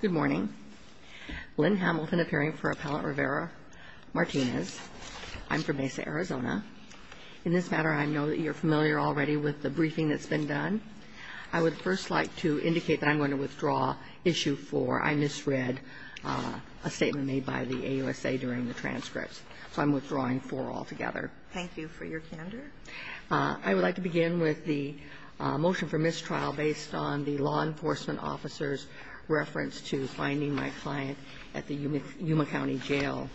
Good morning. Lynn Hamilton appearing for Appellant Rivera-Martinez. I'm from Mesa, Arizona. In this matter, I know that you're familiar already with the briefing that's been done. I would first like to indicate that I'm going to withdraw Issue 4. I misread a statement made by the AUSA during the transcripts, so I'm withdrawing 4 altogether. Thank you for your candor. I would like to begin with the motion for mistrial based on the law enforcement officer's reference to finding my client at the Yuma County Jail.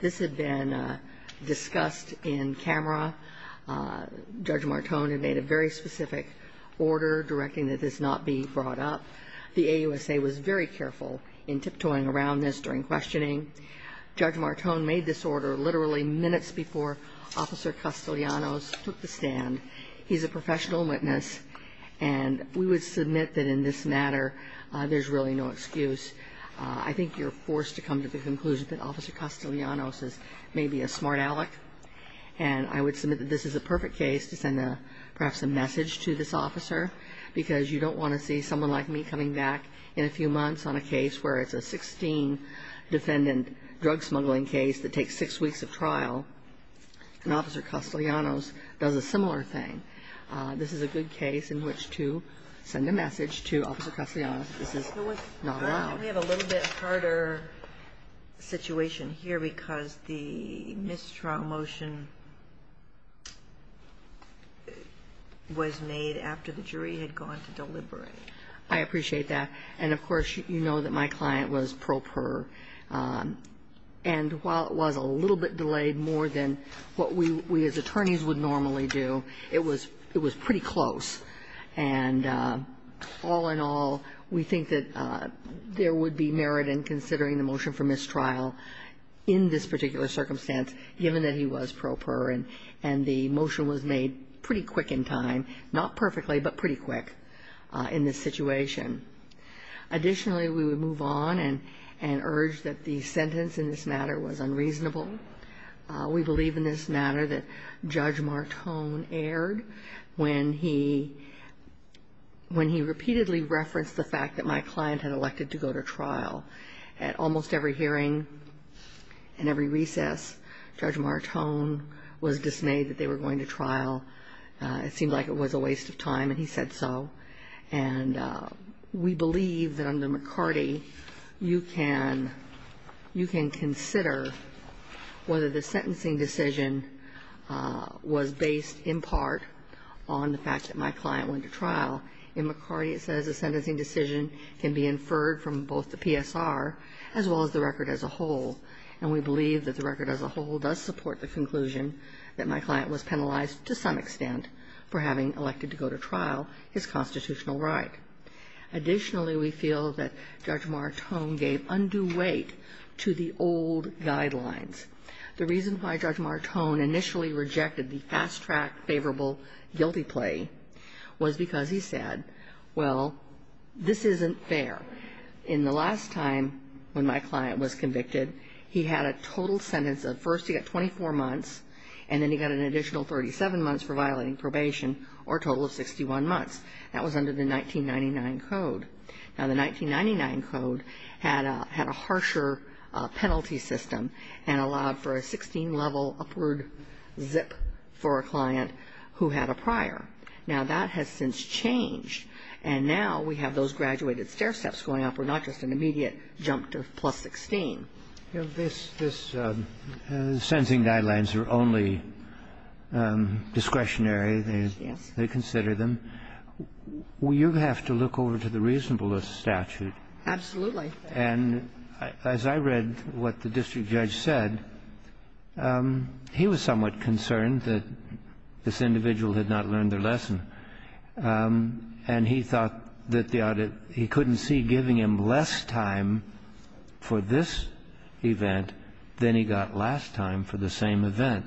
This had been discussed in camera. Judge Martone had made a very specific order directing that this not be brought up. The AUSA was very careful in tiptoeing around this during questioning. Judge Martone made this order literally minutes before Officer Castellanos took the stand. He's a professional witness, and we would submit that in this matter, there's really no excuse. I think you're forced to come to the conclusion that Officer Castellanos is maybe a smart aleck. And I would submit that this is a perfect case to send perhaps a message to this officer, because you don't want to see someone like me coming back in a few months on a case where it's a 16 defendant drug smuggling case that takes six weeks of trial, and Officer Castellanos does a similar thing. This is a good case in which to send a message to Officer Castellanos that this is not allowed. We have a little bit harder situation here because the mistrial motion was made after the jury had gone to deliberate. I appreciate that. And of course, you know that my client was pro per. And while it was a little bit delayed, more than what we as attorneys would normally do, it was pretty close. And all in all, we think that there would be merit in considering the motion for mistrial in this particular circumstance, given that he was pro per, and the motion was made pretty quick in time. Not perfectly, but pretty quick in this situation. Additionally, we would move on and urge that the sentence in this matter was unreasonable. We believe in this matter that Judge Martone erred when he repeatedly referenced the fact that my client had elected to go to trial. At almost every hearing and every recess, Judge Martone was dismayed that they were going to trial. It seemed like it was a waste of time, and he said so. And we believe that under McCarty, you can consider whether the sentencing decision was based in part on the fact that my client went to trial. In McCarty, it says the sentencing decision can be inferred from both the PSR as well as the record as a whole. And we believe that the record as a whole does support the conclusion that my client was penalized to some extent for having elected to go to trial his constitutional right. Additionally, we feel that Judge Martone gave undue weight to the old guidelines. The reason why Judge Martone initially rejected the fast-track favorable guilty plea was because he said, well, this isn't fair. In the last time when my client was convicted, he had a total sentence of first he got 24 months, and then he got an additional 37 months for violating probation, or a total of 61 months. That was under the 1999 code. Now, the 1999 code had a harsher penalty system and allowed for a 16-level upward zip for a client who had a prior. Now, that has since changed, and now we have those graduated stair steps going up. We're not just an immediate jump to plus 16. This sentencing guidelines are only discretionary. They consider them. You have to look over to the reasonableness statute. Absolutely. And as I read what the district judge said, he was somewhat concerned that this individual had not learned their lesson, and he thought that the audit he couldn't see giving him less time for this event than he got last time for the same event.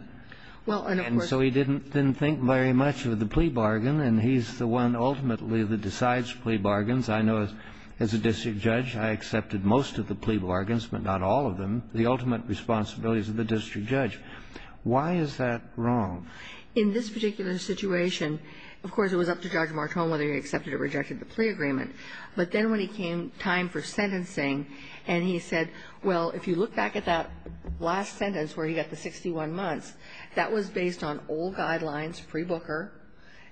And so he didn't think very much of the plea bargain, and he's the one ultimately that decides plea bargains. I know as a district judge, I accepted most of the plea bargains, but not all of them, the ultimate responsibilities of the district judge. Why is that wrong? In this particular situation, of course, it was up to Judge Martone whether he accepted or rejected the plea agreement. But then when it came time for sentencing, and he said, well, if you look back at that last sentence where he got the 61 months, that was based on old guidelines, pre-booker,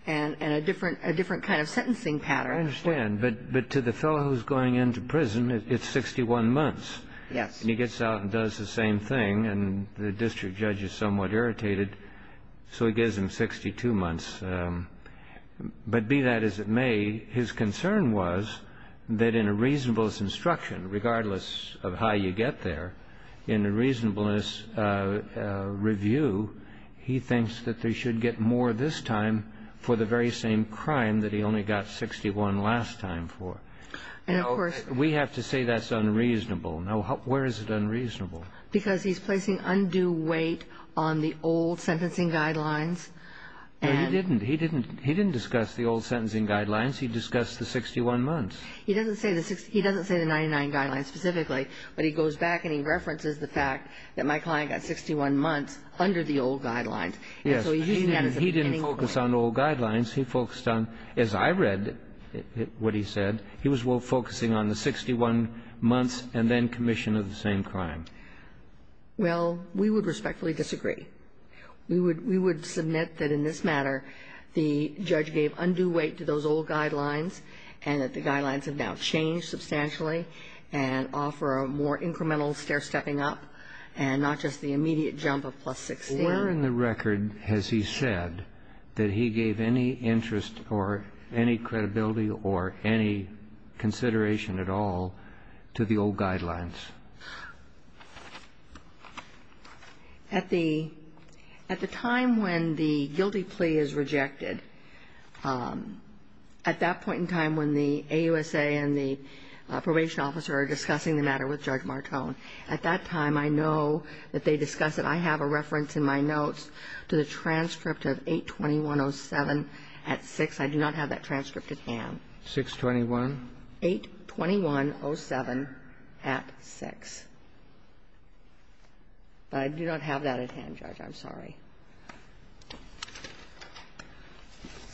and a different kind of sentencing pattern. I understand, but to the fellow who's going into prison, it's 61 months. Yes. And he gets out and does the same thing, and the district judge is somewhat irritated, so he gives him 62 months. But be that as it may, his concern was that in a reasonableness instruction, regardless of how you get there, in a reasonableness review, he thinks that they should get more this time for the very same crime that he only got 61 last time for. And, of course we have to say that's unreasonable. Now, where is it unreasonable? Because he's placing undue weight on the old sentencing guidelines. No, he didn't. He didn't discuss the old sentencing guidelines. He discussed the 61 months. He doesn't say the 99 guidelines specifically, but he goes back and he references the fact that my client got 61 months under the old guidelines. And so he's using that as a beginning point. He didn't focus on old guidelines. He focused on, as I read what he said, he was focusing on the 61 months and then commission of the same crime. Well, we would respectfully disagree. We would submit that in this matter, the judge gave undue weight to those old guidelines and that the guidelines have now changed substantially and offer a more incremental stair-stepping up and not just the immediate jump of plus 16. Where in the record has he said that he gave any interest or any credibility or any consideration at all to the old guidelines? At the time when the guilty plea is rejected, at that point in time when the AUSA and the probation officer are discussing the matter with Judge Martone, at that time I know that they discuss it. I have a reference in my notes to the transcript of 821.07 at 6. I do not have that transcript at hand. 621? 821.07 at 6. But I do not have that at hand, Judge. I'm sorry.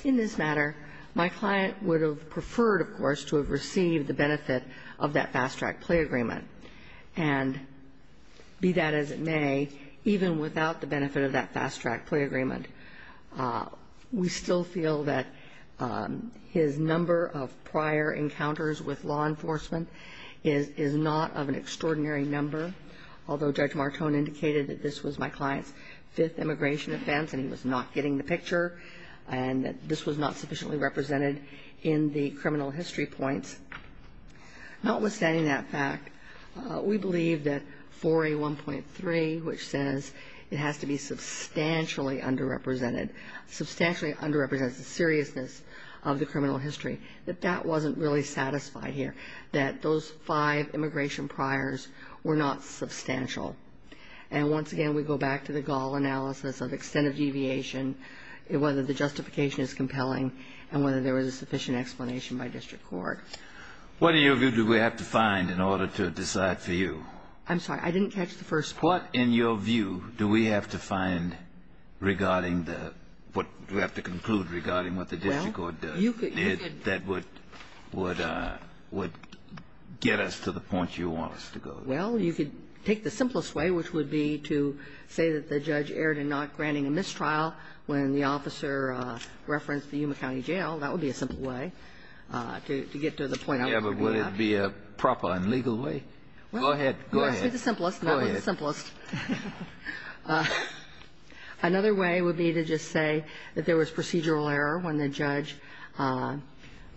In this matter, my client would have preferred, of course, to have received the benefit of that fast-track plea agreement. And be that as it may, even without the benefit of that fast-track plea agreement, we still feel that his number of prior encounters with law enforcement is not of an extraordinary number, although Judge Martone indicated that this was my client's fifth immigration offense and he was not getting the picture and that this was not sufficiently represented in the criminal history points. Notwithstanding that fact, we believe that 4A.1.3, which says it has to be substantially underrepresented, substantially underrepresents the seriousness of the criminal history, that that wasn't really satisfied here, that those five immigration priors were not substantial. And once again, we go back to the Gall analysis of extent of deviation, whether the justification is compelling, and whether there was a sufficient explanation by district court. What, in your view, do we have to find in order to decide for you? I'm sorry. I didn't catch the first part. What, in your view, do we have to find regarding the – what do we have to conclude regarding what the district court does? Well, you could – That would get us to the point you want us to go to. Well, you could take the simplest way, which would be to say that the judge erred in not granting a mistrial when the officer referenced the Yuma County Jail. Well, that would be a simple way to get to the point I'm looking at. Yeah, but would it be a proper and legal way? Go ahead. Well, you asked me the simplest, and that was the simplest. Go ahead. Another way would be to just say that there was procedural error when the judge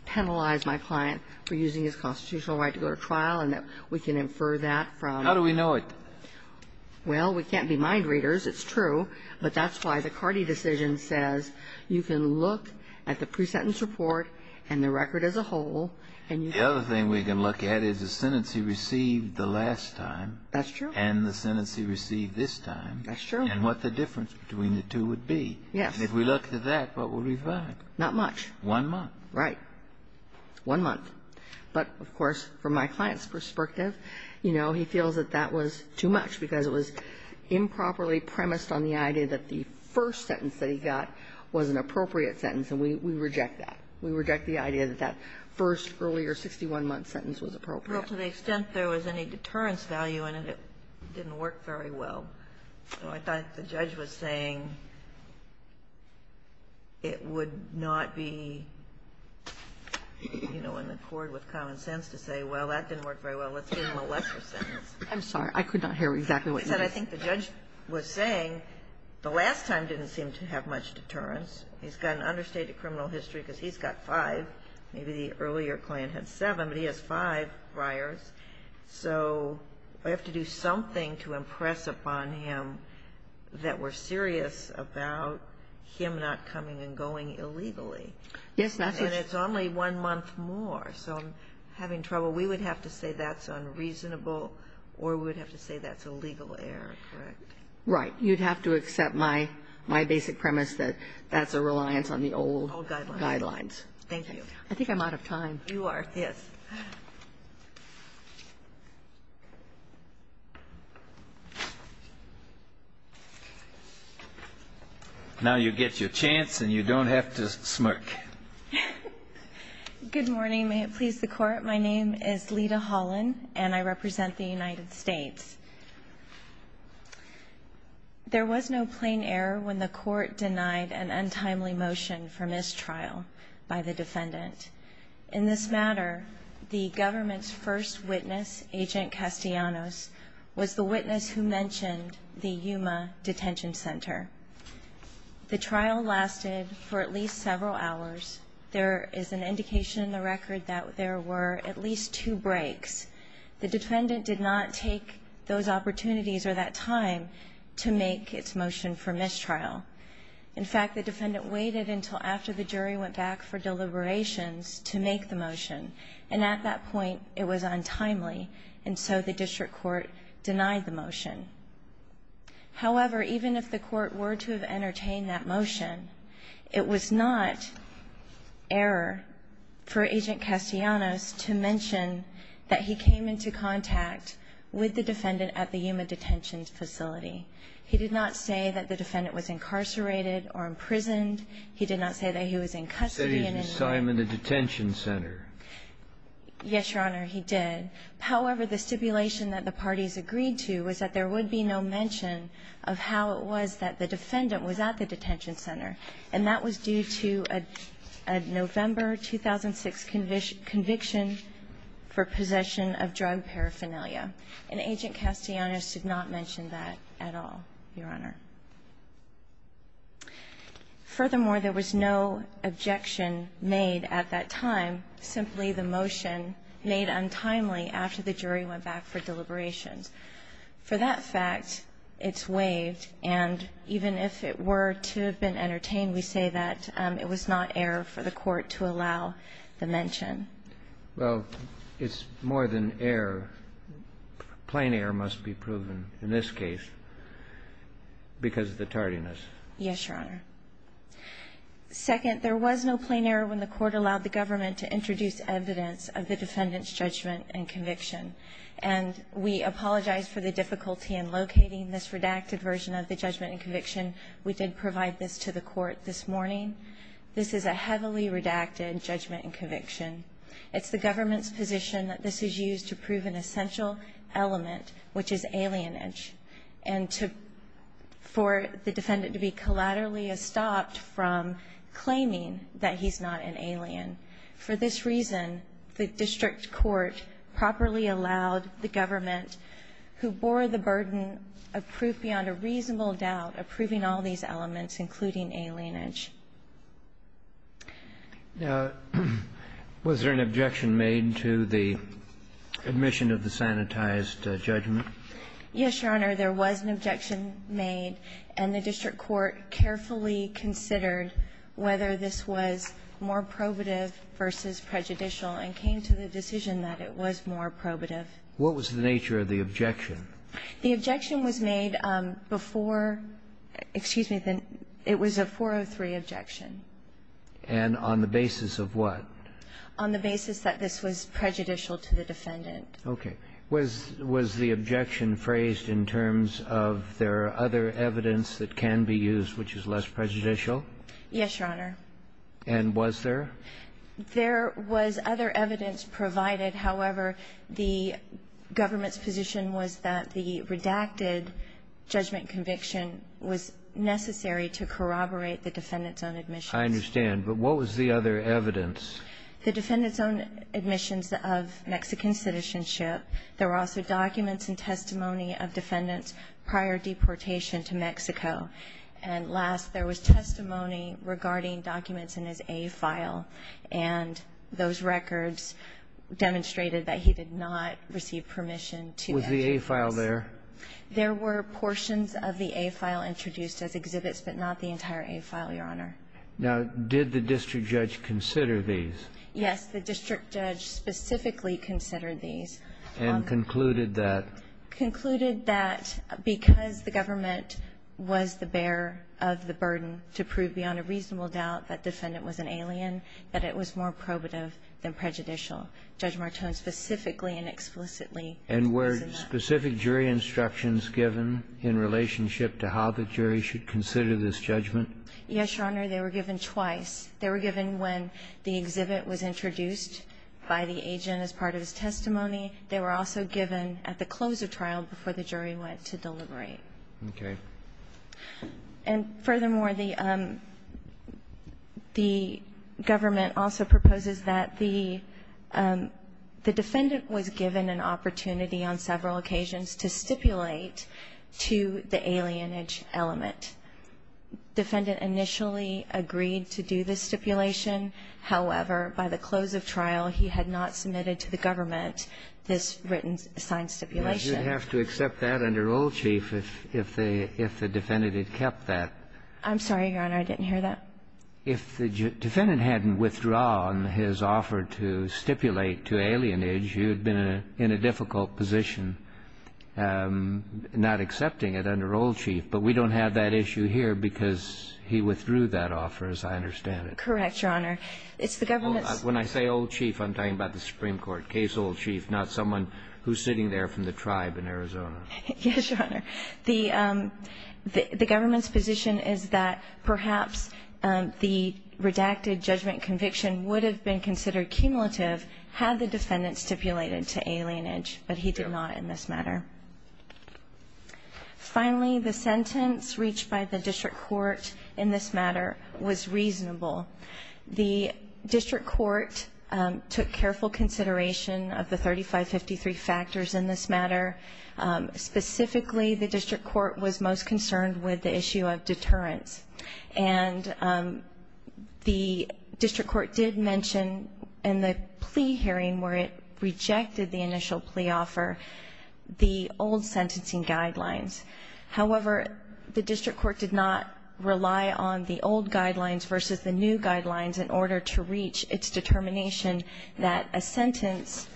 penalized my client for using his constitutional right to go to trial, and that we can infer that from – How do we know it? Well, we can't be mind readers. It's true. But that's why the Carty decision says you can look at the pre-sentence report and the record as a whole, and you – The other thing we can look at is the sentence he received the last time – That's true. And the sentence he received this time – That's true. And what the difference between the two would be. Yes. And if we look at that, what would we find? Not much. One month. Right. One month. But, of course, from my client's perspective, you know, he feels that that was too much because it was improperly premised on the idea that the first sentence that he got was an appropriate sentence, and we reject that. We reject the idea that that first earlier 61-month sentence was appropriate. Well, to the extent there was any deterrence value in it, it didn't work very well. So I thought the judge was saying it would not be, you know, in accord with common sense to say, well, that didn't work very well, let's give him a lesser sentence. I'm sorry. I could not hear exactly what you said. I think the judge was saying the last time didn't seem to have much deterrence. He's got an understated criminal history because he's got five. Maybe the earlier client had seven, but he has five briars. So we have to do something to impress upon him that we're serious about him not coming and going illegally. Yes, that's – And it's only one month more. So I'm having trouble. So we would have to say that's unreasonable or we would have to say that's a legal error, correct? Right. You'd have to accept my basic premise that that's a reliance on the old guidelines. Old guidelines. Thank you. I think I'm out of time. You are. Yes. Now you get your chance and you don't have to smirk. Good morning. May it please the Court. My name is Lita Holland and I represent the United States. There was no plain error when the Court denied an untimely motion for mistrial by the defendant. In this matter, the government's first witness, Agent Castellanos, was the witness who mentioned the Yuma Detention Center. The trial lasted for at least several hours. There is an indication in the record that there were at least two breaks. The defendant did not take those opportunities or that time to make its motion for mistrial. In fact, the defendant waited until after the jury went back for deliberations to make the motion. And at that point, it was untimely. And so the district court denied the motion. However, even if the Court were to have entertained that motion, it was not error for Agent Castellanos to mention that he came into contact with the defendant at the Yuma Detention Facility. He did not say that the defendant was incarcerated or imprisoned. He did not say that he was in custody. He said he was assigned to the detention center. Yes, Your Honor, he did. However, the stipulation that the parties agreed to was that there would be no mention of how it was that the defendant was at the detention center. And that was due to a November 2006 conviction for possession of drug paraphernalia. And Agent Castellanos did not mention that at all, Your Honor. Furthermore, there was no objection made at that time, simply the motion made untimely after the jury went back for deliberations. For that fact, it's waived. And even if it were to have been entertained, we say that it was not error for the Court to allow the mention. Well, it's more than error. Plain error must be proven in this case because of the tardiness. Yes, Your Honor. This is evidence of the defendant's judgment and conviction. And we apologize for the difficulty in locating this redacted version of the judgment and conviction. We did provide this to the Court this morning. This is a heavily redacted judgment and conviction. It's the government's position that this is used to prove an essential element, which is alienage, and for the defendant to be collaterally stopped from claiming that he's not an alien. For this reason, the district court properly allowed the government, who bore the burden of proof beyond a reasonable doubt, approving all these elements, including alienage. Now, was there an objection made to the admission of the sanitized judgment? Yes, Your Honor. There was an objection made, and the district court carefully considered whether this was more probative versus prejudicial and came to the decision that it was more probative. What was the nature of the objection? The objection was made before, excuse me, it was a 403 objection. And on the basis of what? On the basis that this was prejudicial to the defendant. Okay. Was the objection phrased in terms of there are other evidence that can be used which is less prejudicial? Yes, Your Honor. And was there? There was other evidence provided. However, the government's position was that the redacted judgment conviction was necessary to corroborate the defendant's own admission. I understand. But what was the other evidence? The defendant's own admissions of Mexican citizenship. There were also documents and testimony of defendant's prior deportation to Mexico. And last, there was testimony regarding documents in his A file, and those records demonstrated that he did not receive permission to address. Was the A file there? There were portions of the A file introduced as exhibits, but not the entire A file, Your Honor. Now, did the district judge consider these? Yes, the district judge specifically considered these. And concluded that? Concluded that because the government was the bearer of the burden to prove beyond a reasonable doubt that defendant was an alien, that it was more probative than prejudicial. Judge Martone specifically and explicitly said that. And were specific jury instructions given in relationship to how the jury should consider this judgment? Yes, Your Honor. They were given twice. They were given when the exhibit was introduced by the agent as part of his testimony. They were also given at the close of trial before the jury went to deliberate. Okay. And furthermore, the government also proposes that the defendant was given an opportunity on several occasions to stipulate to the alienage element. Defendant initially agreed to do this stipulation. However, by the close of trial, he had not submitted to the government this written signed stipulation. You'd have to accept that under Old Chief if the defendant had kept that. I'm sorry, Your Honor. I didn't hear that. If the defendant hadn't withdrawn his offer to stipulate to alienage, you'd have been in a difficult position not accepting it under Old Chief. But we don't have that issue here because he withdrew that offer, as I understand it. Correct, Your Honor. It's the government's... When I say Old Chief, I'm talking about the Supreme Court. Case Old Chief, not someone who's sitting there from the tribe in Arizona. Yes, Your Honor. The government's position is that perhaps the redacted judgment conviction would have been considered cumulative had the defendant stipulated to alienage, but he did not in this matter. Finally, the sentence reached by the district court in this matter was reasonable. The district court took careful consideration of the 3553 factors in this matter. Specifically, the district court was most concerned with the issue of deterrence. And the district court did mention in the plea hearing where it rejected the old sentencing guidelines. However, the district court did not rely on the old guidelines versus the new guidelines in order to reach its determination that a sentence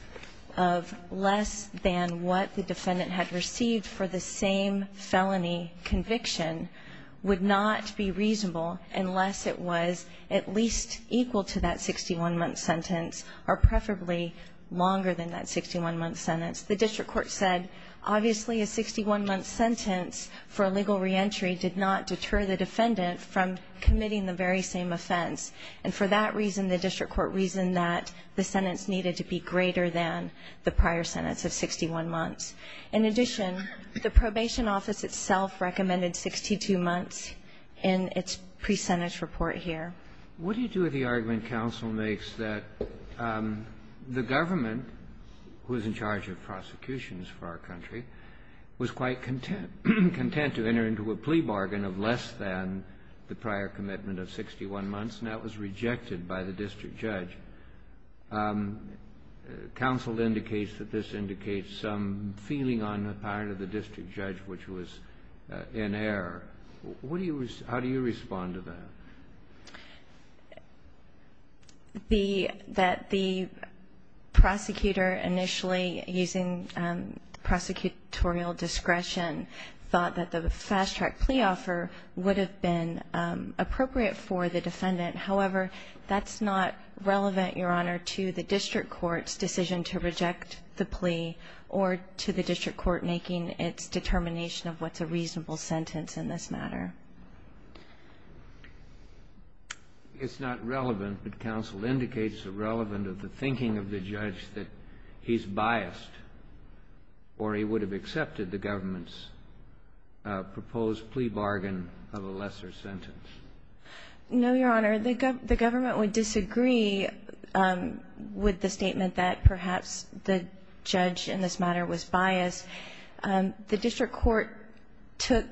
of less than what the defendant had received for the same felony conviction would not be reasonable unless it was at least equal to that 61-month sentence or preferably longer than that 61-month sentence. The district court said, obviously, a 61-month sentence for a legal reentry did not deter the defendant from committing the very same offense. And for that reason, the district court reasoned that the sentence needed to be greater than the prior sentence of 61 months. In addition, the probation office itself recommended 62 months in its pre-sentence report here. What do you do if the argument counsel makes that the government, who is in charge of prosecutions for our country, was quite content to enter into a plea bargain of less than the prior commitment of 61 months, and that was rejected by the district judge? Counsel indicates that this indicates some feeling on the part of the district judge which was in error. What do you respond to that? That the prosecutor initially, using prosecutorial discretion, thought that the fast-track plea offer would have been appropriate for the defendant. However, that's not relevant, Your Honor, to the district court's decision to reject the plea or to the district court making its determination of what's a reasonable sentence in this matter. It's not relevant, but counsel indicates the relevant of the thinking of the judge that he's biased or he would have accepted the government's proposed plea bargain of a lesser sentence. No, Your Honor. The government would disagree with the statement that perhaps the judge in this matter was biased. The district court took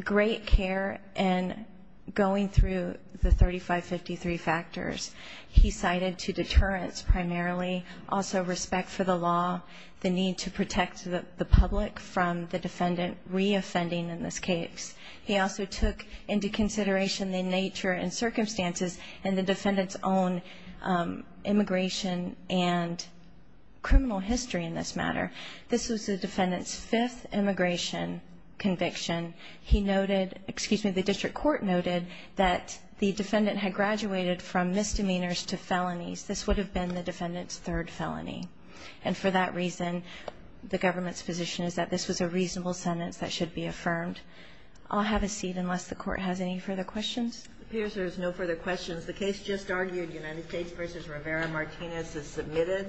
great care in going through the 3553 factors. He cited to deterrence primarily, also respect for the law, the need to protect the public from the defendant reoffending in this case. He also took into consideration the nature and circumstances and the defendant's own immigration and criminal history in this matter. This was the defendant's fifth immigration conviction. He noted, excuse me, the district court noted that the defendant had graduated from misdemeanors to felonies. This would have been the defendant's third felony. And for that reason, the government's position is that this was a reasonable sentence that should be affirmed. I'll have a seat unless the court has any further questions. It appears there's no further questions. The case just argued, United States v. Rivera-Martinez, is submitted.